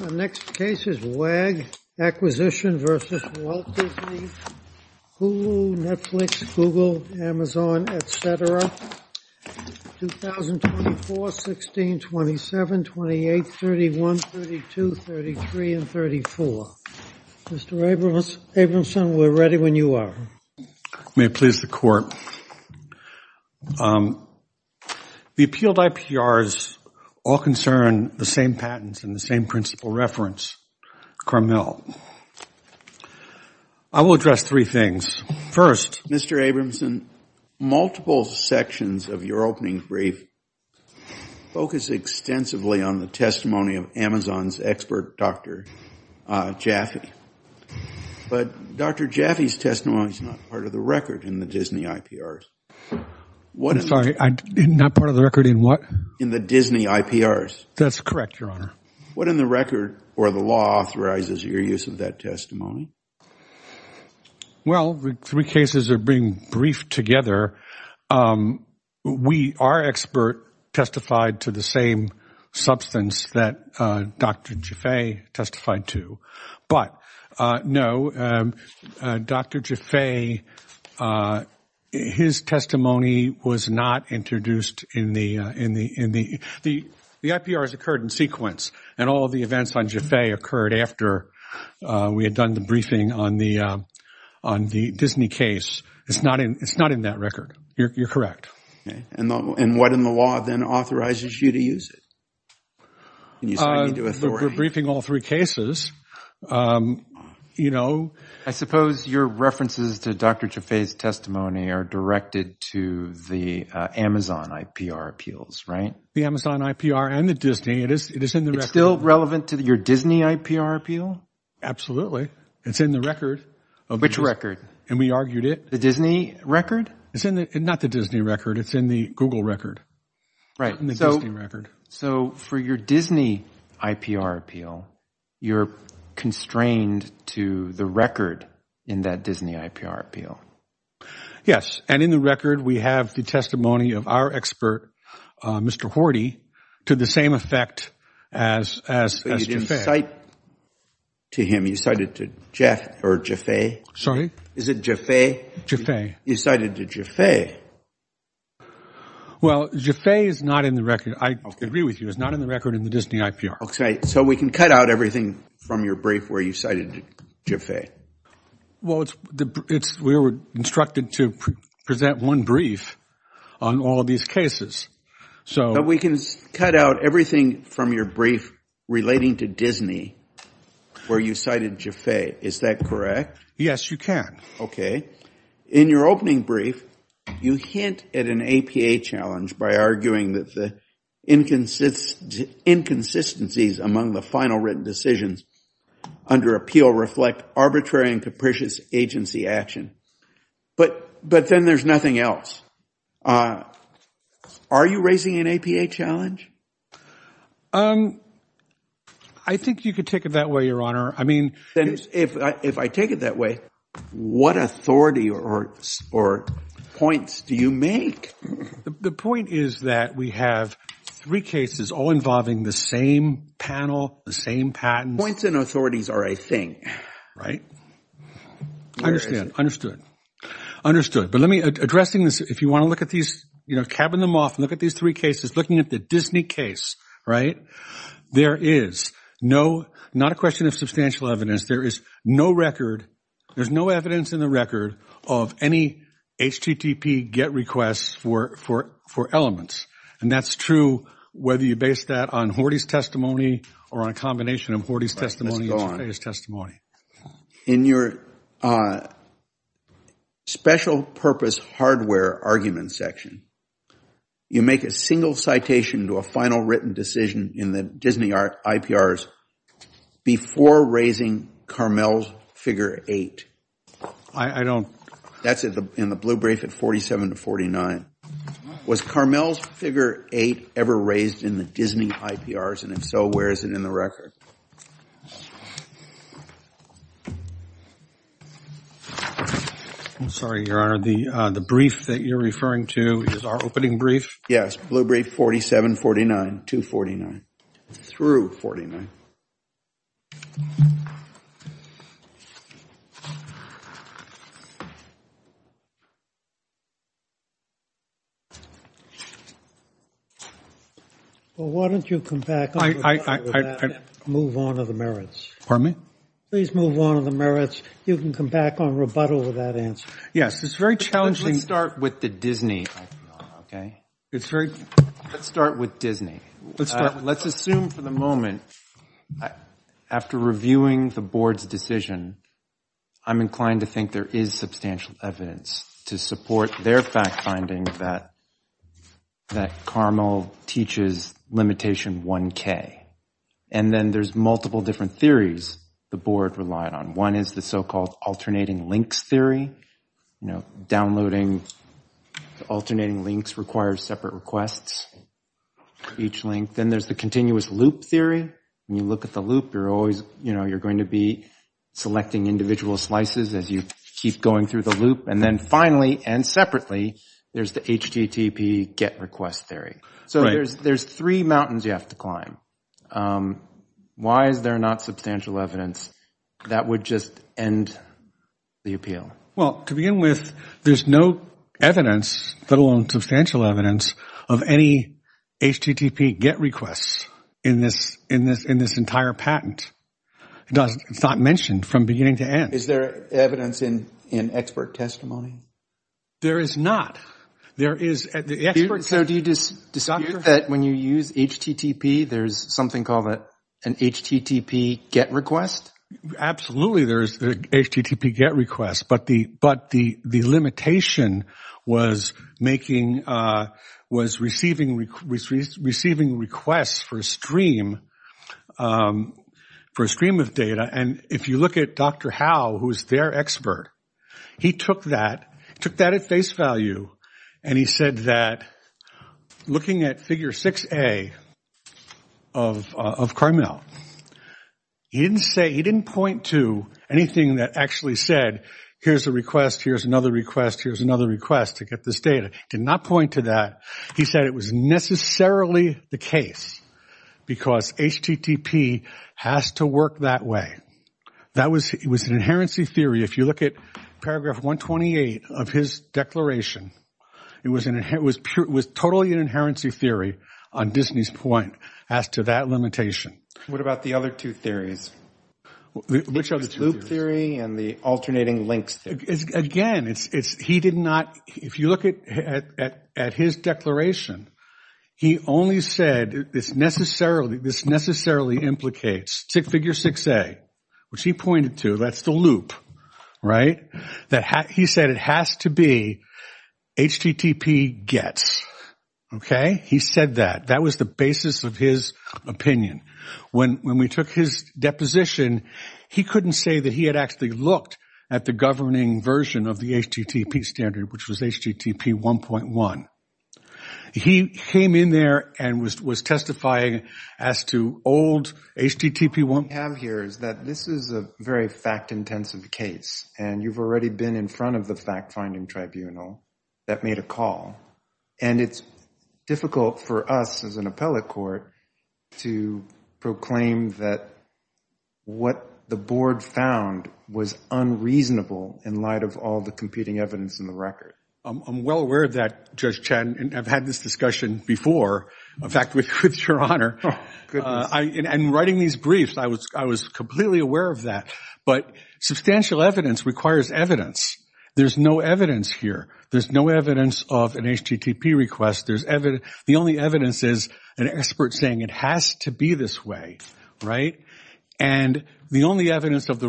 WAG Acquisition, LLC v. Walt Disney, Hulu, Netflix, Google, Amazon, etc., 2024, 16, 27, 28, 31, 32, 33, and 34. Mr. Abramson, we're ready when you are. May it please the Court. The appealed IPRs all concern the same patents and the same principal reference, Carmel. I will address three things. First, Mr. Abramson, multiple sections of your opening brief focus extensively on the testimony of Amazon's expert, Dr. Jaffe. But Dr. Jaffe's testimony is not part of the record in the Disney IPRs. I'm sorry, not part of the record in what? In the Disney IPRs. That's correct, Your Honor. What in the record or the law authorizes your use of that testimony? Well, the three cases are being briefed together. We, our expert, testified to the same substance that Dr. Jaffe testified to. But, no, Dr. Jaffe, his testimony was not introduced in the IPRs occurred in sequence. And all of the events on Jaffe occurred after we had done the briefing on the Disney case. It's not in that record. You're correct. And what in the law then authorizes you to use it? We're briefing all three cases. I suppose your references to Dr. Jaffe's testimony are directed to the Amazon IPR appeals, right? The Amazon IPR and the Disney, it is in the record. It's still relevant to your Disney IPR appeal? Absolutely. It's in the record. Which record? And we argued it. The Disney record? It's in the, not the Disney record, it's in the Google record. Right. In the Disney record. So for your Disney IPR appeal, you're constrained to the record in that Disney IPR appeal? Yes. And in the record, we have the testimony of our expert, Mr. Horty, to the same effect as Jaffe. So you didn't cite to him, you cited to Jeff or Jaffe? Sorry? Is it Jaffe? Jaffe. You cited to Jaffe. Well, Jaffe is not in the record. I agree with you. It's not in the record in the Disney IPR. Okay. So we can cut out everything from your brief where you cited to Jaffe. Well, we were instructed to present one brief on all of these cases. But we can cut out everything from your brief relating to Disney where you cited Jaffe. Is that correct? Yes, you can. In your opening brief, you hint at an APA challenge by arguing that the inconsistencies among the final written decisions under appeal reflect arbitrary and capricious agency action. But then there's nothing else. Are you raising an APA challenge? I think you could take it that way, Your Honor. If I take it that way, what authority or points do you make? The point is that we have three cases all involving the same panel, the same patents. Points and authorities are a thing. Right. Understood. Understood. But let me, addressing this, if you want to look at these, cabin them off, look at these three cases, looking at the Disney case, right, there is no, not a question of substantial evidence, there is no record, there's no evidence in the record of any HTTP GET requests for elements. And that's true whether you base that on Horty's testimony or on a combination of Horty's testimony and Jaffe's testimony. In your special purpose hardware argument section, you make a single citation to a final written decision in the Disney IPRs before raising Carmel's figure eight. I don't. That's in the blue brief at 47 to 49. Was Carmel's figure eight ever raised in the Disney IPRs? And if so, where is it in the record? I'm sorry, Your Honor. The brief that you're referring to is our opening brief? Yes. All right. Blue brief 4749 to 49 through 49. Well, why don't you come back and move on to the merits? Pardon me? Please move on to the merits. You can come back on rebuttal with that answer. Yes, it's very challenging. Let's start with the Disney IPR, okay? Let's start with Disney. Let's assume for the moment after reviewing the board's decision, I'm inclined to think there is substantial evidence to support their fact finding that Carmel teaches limitation 1K. And then there's multiple different theories the board relied on. One is the so-called alternating links theory. Downloading alternating links requires separate requests for each link. Then there's the continuous loop theory. When you look at the loop, you're going to be selecting individual slices as you keep going through the loop. And then finally and separately, there's the HTTP get request theory. So there's three mountains you have to climb. Why is there not substantial evidence that would just end the appeal? Well, to begin with, there's no evidence, let alone substantial evidence, of any HTTP get requests in this entire patent. It's not mentioned from beginning to end. Is there evidence in expert testimony? There is not. So do you dispute that when you use HTTP, there's something called an HTTP get request? Absolutely there is an HTTP get request. But the limitation was receiving requests for a stream of data. And if you look at Dr. Howe, who is their expert, he took that at face value. And he said that looking at figure 6A of Carmel, he didn't point to anything that actually said, here's a request, here's another request, here's another request to get this data. He did not point to that. He said it was necessarily the case because HTTP has to work that way. It was an inherency theory. If you look at paragraph 128 of his declaration, it was totally an inherency theory on Disney's point as to that limitation. What about the other two theories? Which other two theories? The loop theory and the alternating links theory. Again, he did not – if you look at his declaration, he only said this necessarily implicates figure 6A, which he pointed to. That's the loop, right? He said it has to be HTTP gets, okay? He said that. That was the basis of his opinion. When we took his deposition, he couldn't say that he had actually looked at the governing version of the HTTP standard, which was HTTP 1.1. He came in there and was testifying as to old HTTP 1. What we have here is that this is a very fact-intensive case, and you've already been in front of the fact-finding tribunal that made a call. And it's difficult for us as an appellate court to proclaim that what the board found was unreasonable in light of all the competing evidence in the record. I'm well aware of that, Judge Chen, and I've had this discussion before. In fact, with your honor. In writing these briefs, I was completely aware of that. But substantial evidence requires evidence. There's no evidence here. There's no evidence of an HTTP request. The only evidence is an expert saying it has to be this way, right? And the only evidence on the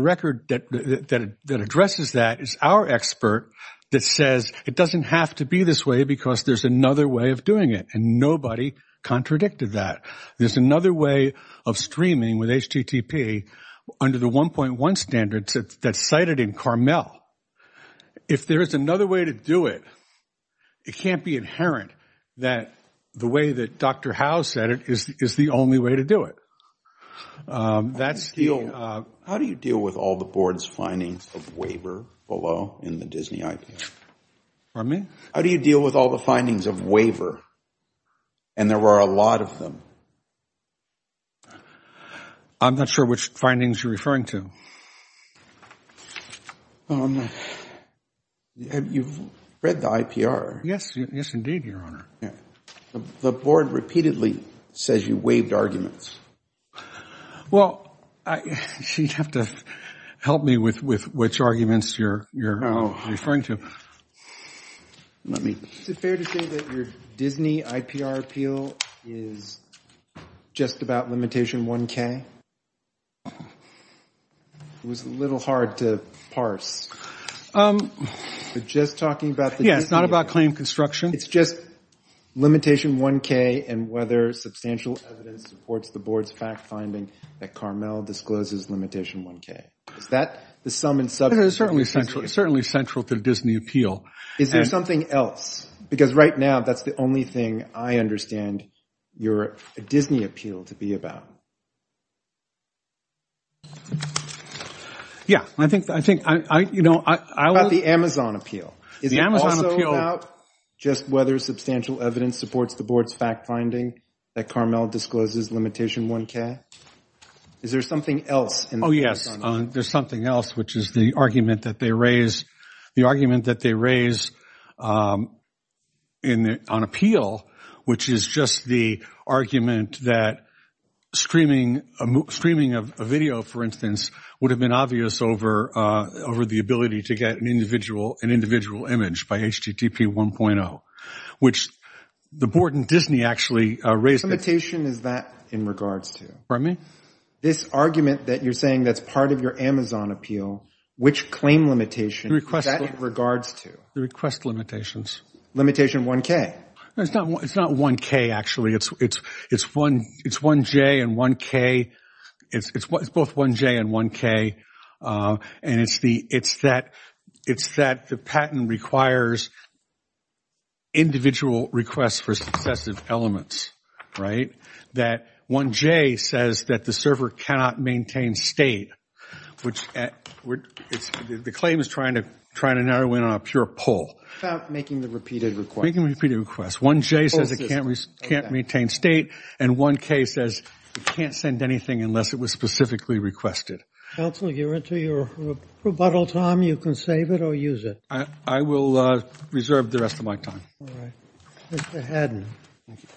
record that addresses that is our expert that says it doesn't have to be this way because there's another way of doing it, and nobody contradicted that. There's another way of streaming with HTTP under the 1.1 standard that's cited in Carmel. If there is another way to do it, it can't be inherent that the way that Dr. Howe said it is the only way to do it. How do you deal with all the board's findings of waiver below in the Disney IPR? Pardon me? How do you deal with all the findings of waiver? And there are a lot of them. I'm not sure which findings you're referring to. You've read the IPR. Yes, indeed, your honor. The board repeatedly says you waived arguments. Well, you'd have to help me with which arguments you're referring to. Is it fair to say that your Disney IPR appeal is just about limitation 1K? It was a little hard to parse. You're just talking about the Disney appeal? Yeah, it's not about claim construction. It's just limitation 1K and whether substantial evidence supports the board's fact-finding that Carmel discloses limitation 1K. Is that the sum and substance of the Disney appeal? It's certainly central to the Disney appeal. Is there something else? Because right now, that's the only thing I understand your Disney appeal to be about. Yeah, I think, you know, I was – About the Amazon appeal. The Amazon appeal – Is it also about just whether substantial evidence supports the board's fact-finding that Carmel discloses limitation 1K? Is there something else? Oh, yes. There's something else, which is the argument that they raise – the argument that they raise on appeal, which is just the argument that streaming a video, for instance, would have been obvious over the ability to get an individual image by HTTP 1.0, which the board and Disney actually raised – What limitation is that in regards to? Pardon me? This argument that you're saying that's part of your Amazon appeal, which claim limitation is that in regards to? The request limitations. Limitation 1K? It's not 1K, actually. It's 1J and 1K. It's both 1J and 1K. And it's that the patent requires individual requests for successive elements, right? That 1J says that the server cannot maintain state, which the claim is trying to narrow in on a pure pull. About making the repeated request. Making repeated request. 1J says it can't maintain state, and 1K says it can't send anything unless it was specifically requested. Counsel, you're into your rebuttal time. You can save it or use it. I will reserve the rest of my time. All right. Mr. Haddon. Thank you.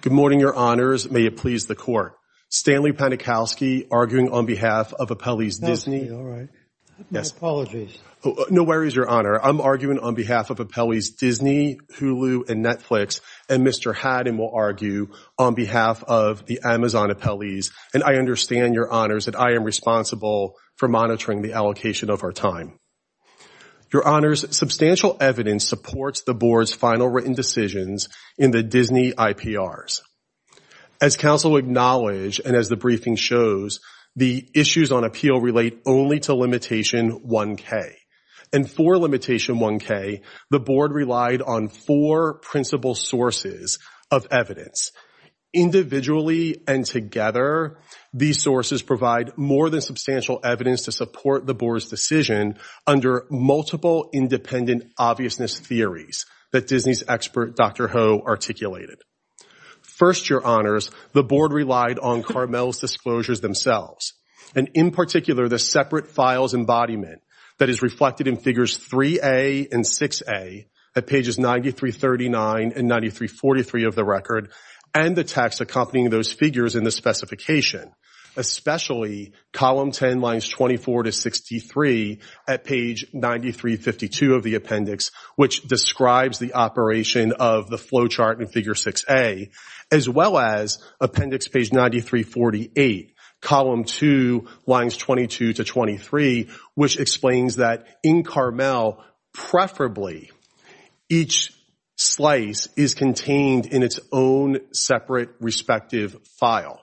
Good morning, Your Honors. May it please the Court. Stanley Panikowski arguing on behalf of Appellees Disney. All right. Apologies. No worries, Your Honor. I'm arguing on behalf of Appellees Disney, Hulu, and Netflix. And Mr. Haddon will argue on behalf of the Amazon Appellees. And I understand, Your Honors, that I am responsible for monitoring the allocation of our time. Your Honors, substantial evidence supports the Board's final written decisions in the Disney IPRs. As counsel acknowledged and as the briefing shows, the issues on appeal relate only to Limitation 1K. And for Limitation 1K, the Board relied on four principal sources of evidence. Individually and together, these sources provide more than substantial evidence to support the Board's decision under multiple independent obviousness theories that Disney's expert, Dr. Ho, articulated. First, Your Honors, the Board relied on Carmel's disclosures themselves. And in particular, the separate files embodiment that is reflected in figures 3A and 6A at pages 9339 and 9343 of the record and the text accompanying those figures in the specification. Especially column 10 lines 24 to 63 at page 9352 of the appendix, which describes the operation of the flow chart in figure 6A, as well as appendix page 9348, column 2 lines 22 to 23, which explains that in Carmel, preferably, each slice is contained in its own separate respective file.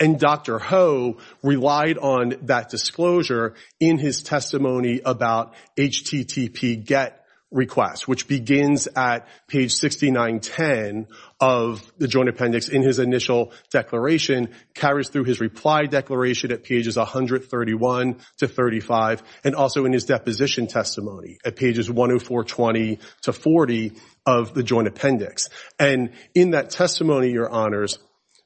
And Dr. Ho relied on that disclosure in his testimony about HTTP GET request, which begins at page 6910 of the joint appendix in his initial declaration, carries through his reply declaration at pages 131 to 35, and also in his deposition testimony at pages 10420 to 40 of the joint appendix. And in that testimony, Your Honors,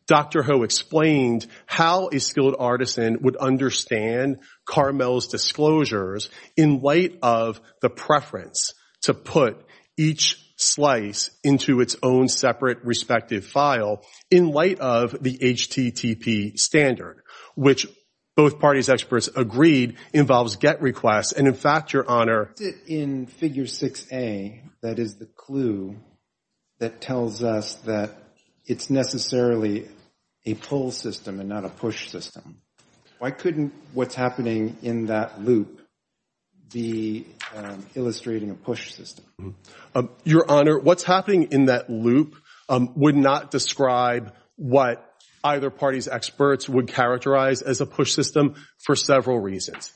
Dr. Ho explained how a skilled artisan would understand Carmel's disclosures in light of the preference to put each slice into its own separate respective file in light of the HTTP standard, which both parties experts agreed involves GET requests. In figure 6A, that is the clue that tells us that it's necessarily a pull system and not a push system. Why couldn't what's happening in that loop be illustrating a push system? Your Honor, what's happening in that loop would not describe what either party's experts would characterize as a push system for several reasons.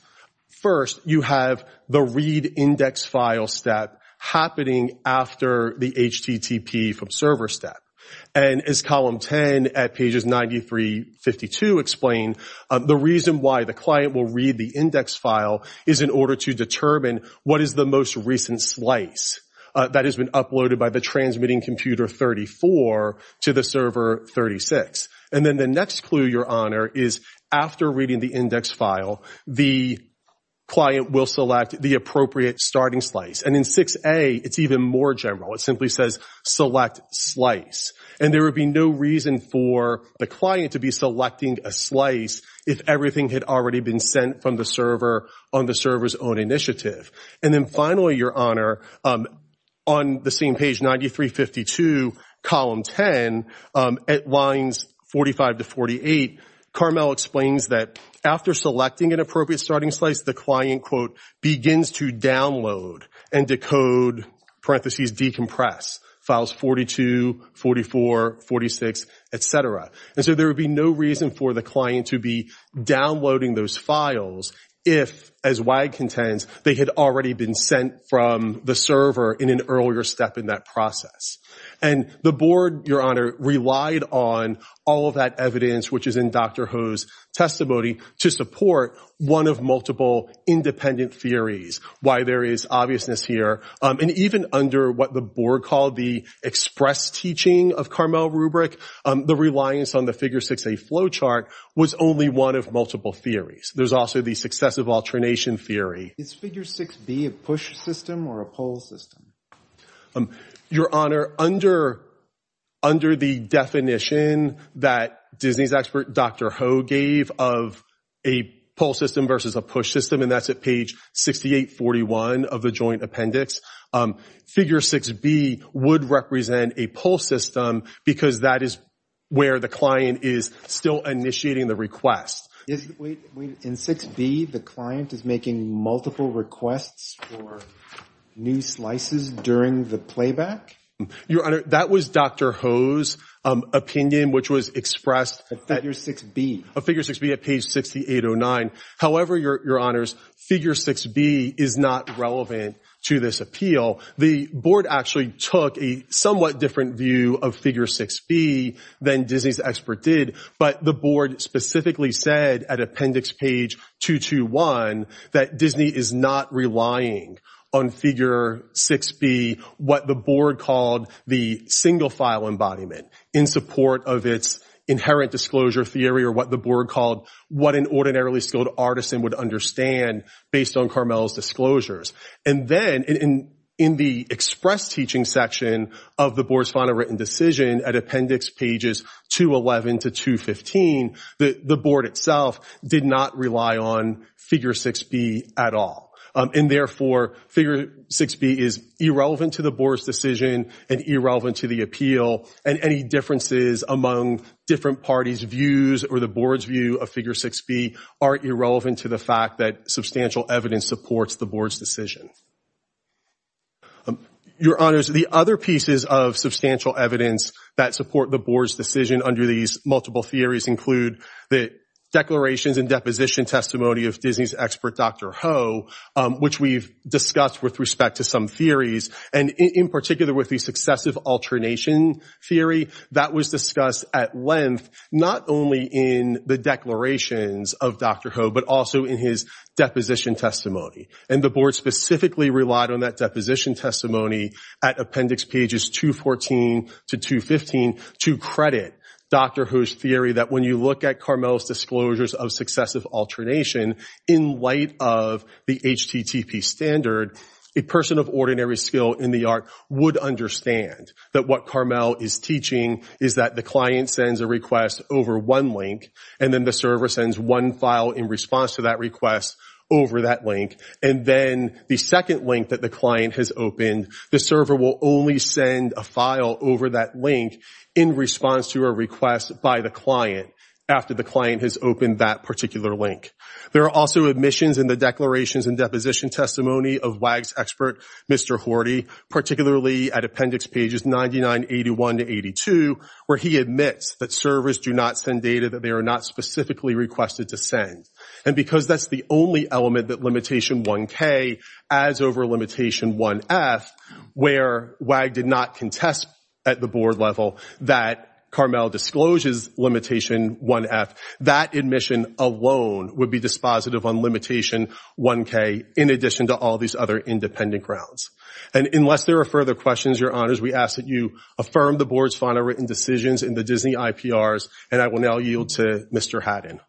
First, you have the read index file step happening after the HTTP from server step. And as column 10 at pages 9352 explain, the reason why the client will read the index file is in order to determine what is the most recent slice that has been uploaded by the transmitting computer 34 to the server 36. And then the next clue, Your Honor, is after reading the index file, the client will select the appropriate starting slice. And in 6A, it's even more general. It simply says select slice. And there would be no reason for the client to be selecting a slice if everything had already been sent from the server on the server's own initiative. And then finally, Your Honor, on the same page 9352, column 10, at lines 45 to 48, Carmel explains that after selecting an appropriate starting slice, the client, quote, begins to download and decode, parentheses, decompress files 42, 44, 46, et cetera. And so there would be no reason for the client to be downloading those files if, as WAG contends, they had already been sent from the server in an earlier step in that process. And the board, Your Honor, relied on all of that evidence, which is in Dr. Ho's testimony, to support one of multiple independent theories, why there is obviousness here. And even under what the board called the express teaching of Carmel rubric, the reliance on the figure 6A flowchart was only one of multiple theories. There's also the successive alternation theory. Is figure 6B a push system or a pull system? Your Honor, under the definition that Disney's expert Dr. Ho gave of a pull system versus a push system, and that's at page 6841 of the joint appendix, figure 6B would represent a pull system because that is where the client is still initiating the request. In 6B, the client is making multiple requests for new slices during the playback? Your Honor, that was Dr. Ho's opinion, which was expressed at figure 6B at page 6809. However, Your Honors, figure 6B is not relevant to this appeal. The board actually took a somewhat different view of figure 6B than Disney's expert did, but the board specifically said at appendix page 221 that Disney is not relying on figure 6B, what the board called the single file embodiment, in support of its inherent disclosure theory or what the board called what an ordinarily skilled artisan would understand based on Carmel's disclosures. And then in the express teaching section of the board's final written decision at appendix pages 211 to 215, the board itself did not rely on figure 6B at all. And therefore, figure 6B is irrelevant to the board's decision and irrelevant to the appeal, and any differences among different parties' views or the board's view of figure 6B are irrelevant to the fact that substantial evidence supports the board's decision. Your Honors, the other pieces of substantial evidence that support the board's decision under these multiple theories include the declarations and deposition testimony of Disney's expert Dr. Ho, which we've discussed with respect to some theories, and in particular with the successive alternation theory that was discussed at length, not only in the declarations of Dr. Ho, but also in his deposition testimony. And the board specifically relied on that deposition testimony at appendix pages 214 to 215 to credit Dr. Ho's theory that when you look at Carmel's disclosures of successive alternation in light of the HTTP standard, a person of ordinary skill in the art would understand that what Carmel is teaching is that the client sends a request over one link, and then the server sends one file in response to that request over that link. And then the second link that the client has opened, the server will only send a file over that link in response to a request by the client after the client has opened that particular link. There are also admissions in the declarations and deposition testimony of WAG's expert, Mr. Horty, particularly at appendix pages 9981 to 82, where he admits that servers do not send data that they are not specifically requested to send. And because that's the only element that limitation 1K adds over limitation 1F, where WAG did not contest at the board level that Carmel discloses limitation 1F, that admission alone would be dispositive on limitation 1K in addition to all these other independent grounds. And unless there are further questions, Your Honors, we ask that you affirm the board's final written decisions in the Disney IPRs, and I will now yield to Mr. Haddon.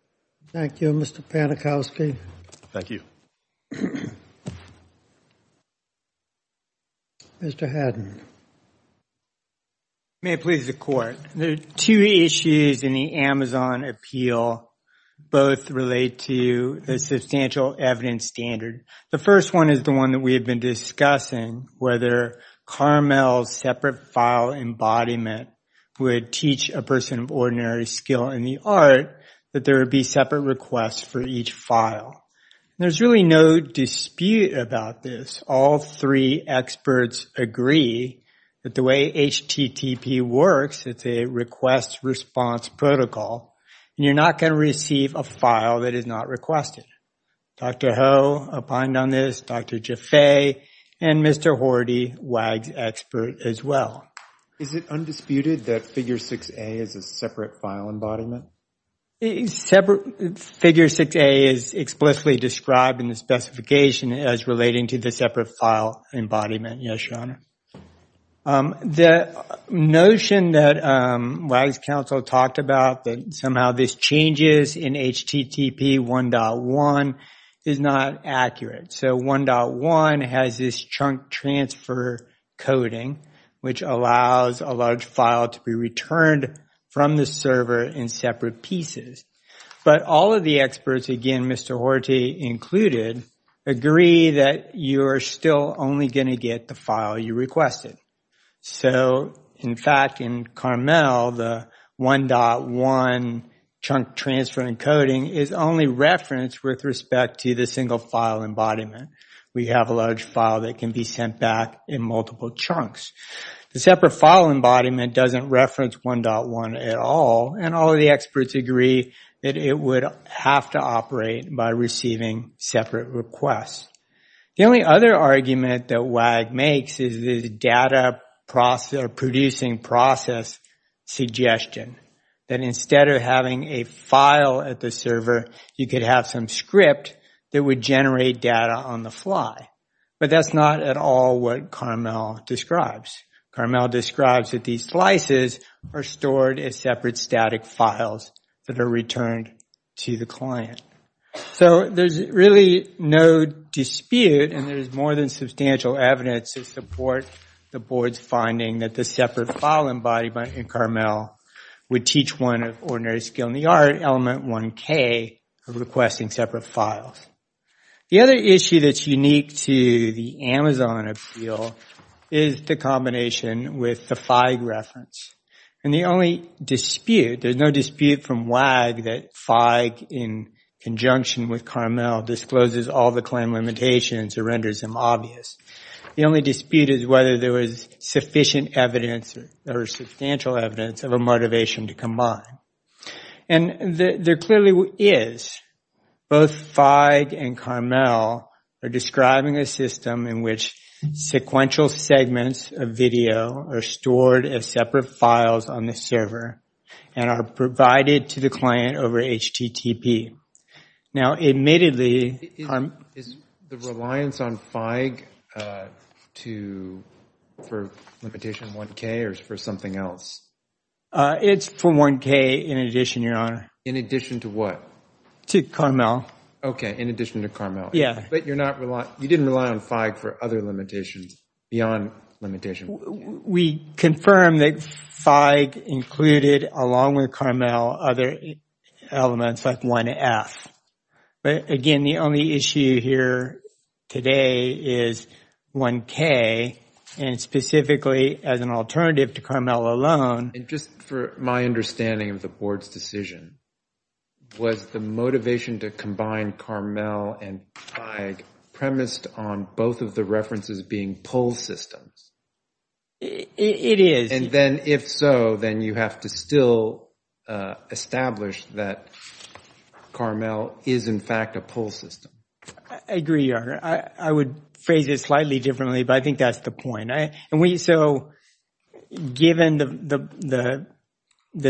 Thank you, Mr. Panikowski. Thank you. Mr. Haddon. May it please the Court. The two issues in the Amazon appeal both relate to the substantial evidence standard. The first one is the one that we have been discussing, whether Carmel's separate file embodiment would teach a person of ordinary skill in the art that there would be separate requests for each file. There's really no dispute about this. All three experts agree that the way HTTP works, it's a request-response protocol, and you're not going to receive a file that is not requested. Dr. Ho opined on this, Dr. Jaffe, and Mr. Hordy, WAG's expert as well. Is it undisputed that Figure 6A is a separate file embodiment? Figure 6A is explicitly described in the specification as relating to the separate file embodiment, yes, Your Honor. The notion that WAG's counsel talked about, that somehow this changes in HTTP 1.1, is not accurate. So 1.1 has this chunk transfer coding, which allows a large file to be returned from the server in separate pieces. But all of the experts, again, Mr. Hordy included, agree that you are still only going to get the file you requested. So, in fact, in Carmel, the 1.1 chunk transfer encoding is only referenced with respect to the single file embodiment. We have a large file that can be sent back in multiple chunks. The separate file embodiment doesn't reference 1.1 at all, and all of the experts agree that it would have to operate by receiving separate requests. The only other argument that WAG makes is the data producing process suggestion, that instead of having a file at the server, you could have some script that would generate data on the fly. But that's not at all what Carmel describes. Carmel describes that these slices are stored as separate static files that are returned to the client. So there's really no dispute, and there's more than substantial evidence to support the board's finding that the separate file embodiment in Carmel would teach one of ordinary skill in the art, element 1K, of requesting separate files. The other issue that's unique to the Amazon appeal is the combination with the FIG reference. And the only dispute, there's no dispute from WAG that FIG in conjunction with Carmel discloses all the claim limitations or renders them obvious. The only dispute is whether there was sufficient evidence or substantial evidence of a motivation to combine. And there clearly is. Both FIG and Carmel are describing a system in which sequential segments of video are stored as separate files on the server and are provided to the client over HTTP. Now, admittedly- Is the reliance on FIG for limitation 1K or for something else? It's for 1K in addition, Your Honor. In addition to what? To Carmel. Okay, in addition to Carmel. Yeah. But you didn't rely on FIG for other limitations beyond limitation 1K? We confirm that FIG included, along with Carmel, other elements like 1F. But again, the only issue here today is 1K, and specifically as an alternative to Carmel alone- And just for my understanding of the Board's decision, was the motivation to combine Carmel and FIG premised on both of the references being pull systems? It is. And then if so, then you have to still establish that Carmel is, in fact, a pull system. I agree, Your Honor. I would phrase it slightly differently, but I think that's the point. Given that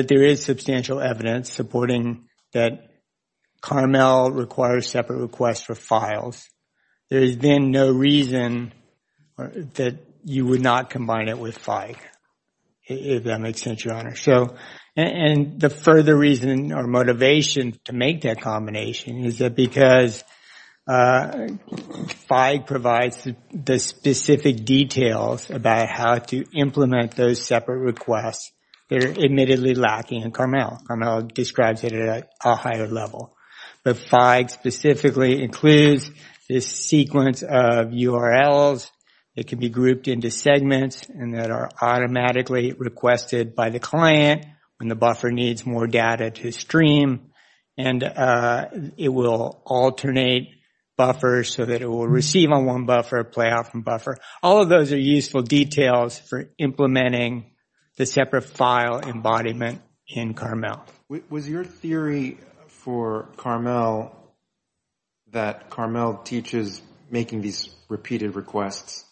there is substantial evidence supporting that Carmel requires separate requests for files, there has been no reason that you would not combine it with FIG, if that makes sense, Your Honor. And the further reason or motivation to make that combination is because FIG provides the specific details about how to implement those separate requests that are admittedly lacking in Carmel. Carmel describes it at a higher level. But FIG specifically includes this sequence of URLs that can be grouped into segments and that are automatically requested by the client when the buffer needs more data to stream. And it will alternate buffers so that it will receive on one buffer, play out from buffer. All of those are useful details for implementing the separate file embodiment in Carmel. Was your theory for Carmel that Carmel teaches making these repeated requests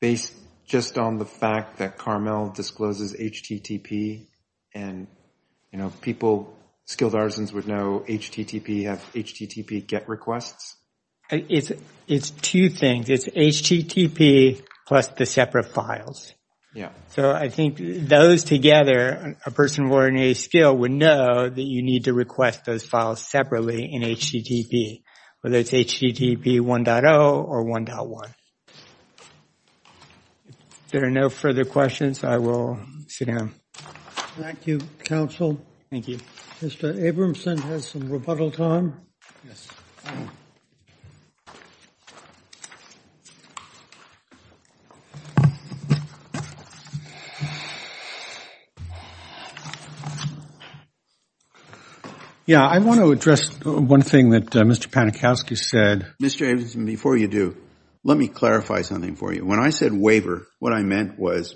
based just on the fact that Carmel discloses HTTP? And people, skilled artisans would know HTTP, have HTTP get requests? It's two things. It's HTTP plus the separate files. Yeah. So I think those together, a person of ordinary skill would know that you need to request those files separately in HTTP, whether it's HTTP 1.0 or 1.1. If there are no further questions, I will sit down. Thank you, counsel. Thank you. Mr. Abramson has some rebuttal time. Yes. Yeah, I want to address one thing that Mr. Panikowsky said. Mr. Abramson, before you do, let me clarify something for you. When I said waiver, what I meant was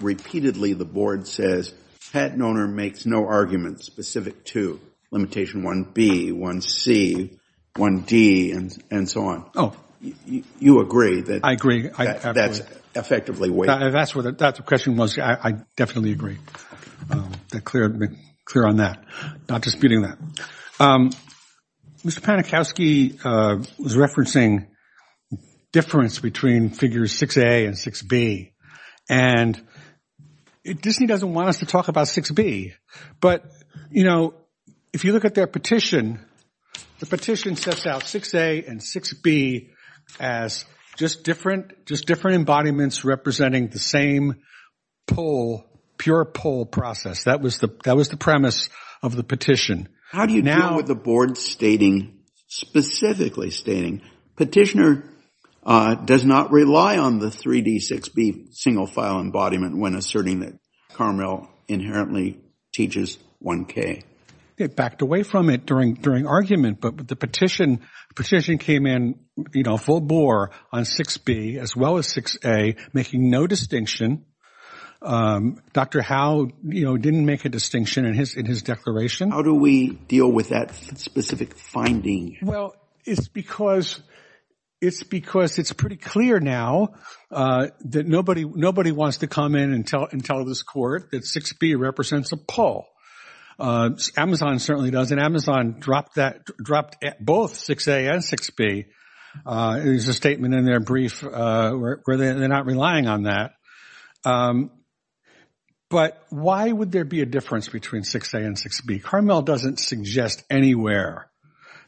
repeatedly the board says patent owner makes no arguments specific to limitation 1B, 1C, 1D, and so on. Oh. You agree that that's effectively waiver? That's what the question was. I definitely agree. Clear on that. Not disputing that. Mr. Panikowsky was referencing difference between figures 6A and 6B. And Disney doesn't want us to talk about 6B. But, you know, if you look at their petition, the petition sets out 6A and 6B as just different embodiments representing the same pull, pure pull process. That was the premise of the petition. How do you deal with the board stating, specifically stating petitioner does not rely on the 3D, 6B single file embodiment when asserting that Carmel inherently teaches 1K? It backed away from it during argument. But the petition came in, you know, full bore on 6B as well as 6A, making no distinction. Dr. Howe, you know, didn't make a distinction in his declaration. How do we deal with that specific finding? Well, it's because it's pretty clear now that nobody wants to come in and tell this court that 6B represents a pull. Amazon certainly doesn't. Amazon dropped both 6A and 6B. There's a statement in their brief where they're not relying on that. But why would there be a difference between 6A and 6B? Carmel doesn't suggest anywhere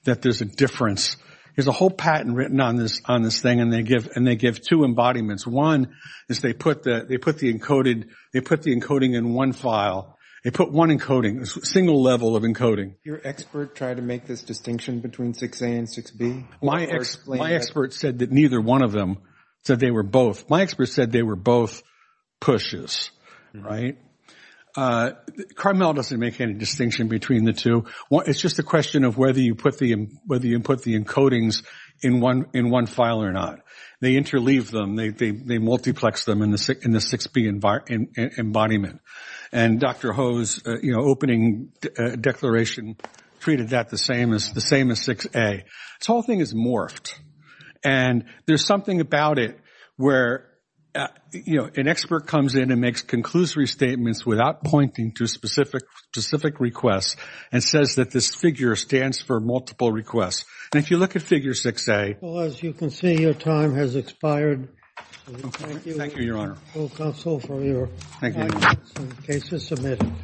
that there's a difference. There's a whole patent written on this thing, and they give two embodiments. One is they put the encoded, they put the encoding in one file. They put one encoding, a single level of encoding. Did your expert try to make this distinction between 6A and 6B? My expert said that neither one of them, said they were both. My expert said they were both pushes, right? Carmel doesn't make any distinction between the two. It's just a question of whether you put the encodings in one file or not. They interleave them. They multiplex them in the 6B embodiment. And Dr. Howe's, you know, opening declaration treated that the same as 6A. This whole thing is morphed. And there's something about it where, you know, an expert comes in and makes conclusory statements without pointing to specific requests and says that this figure stands for multiple requests. And if you look at figure 6A. Well, as you can see, your time has expired. Thank you, Your Honor. Thank you. The case is submitted.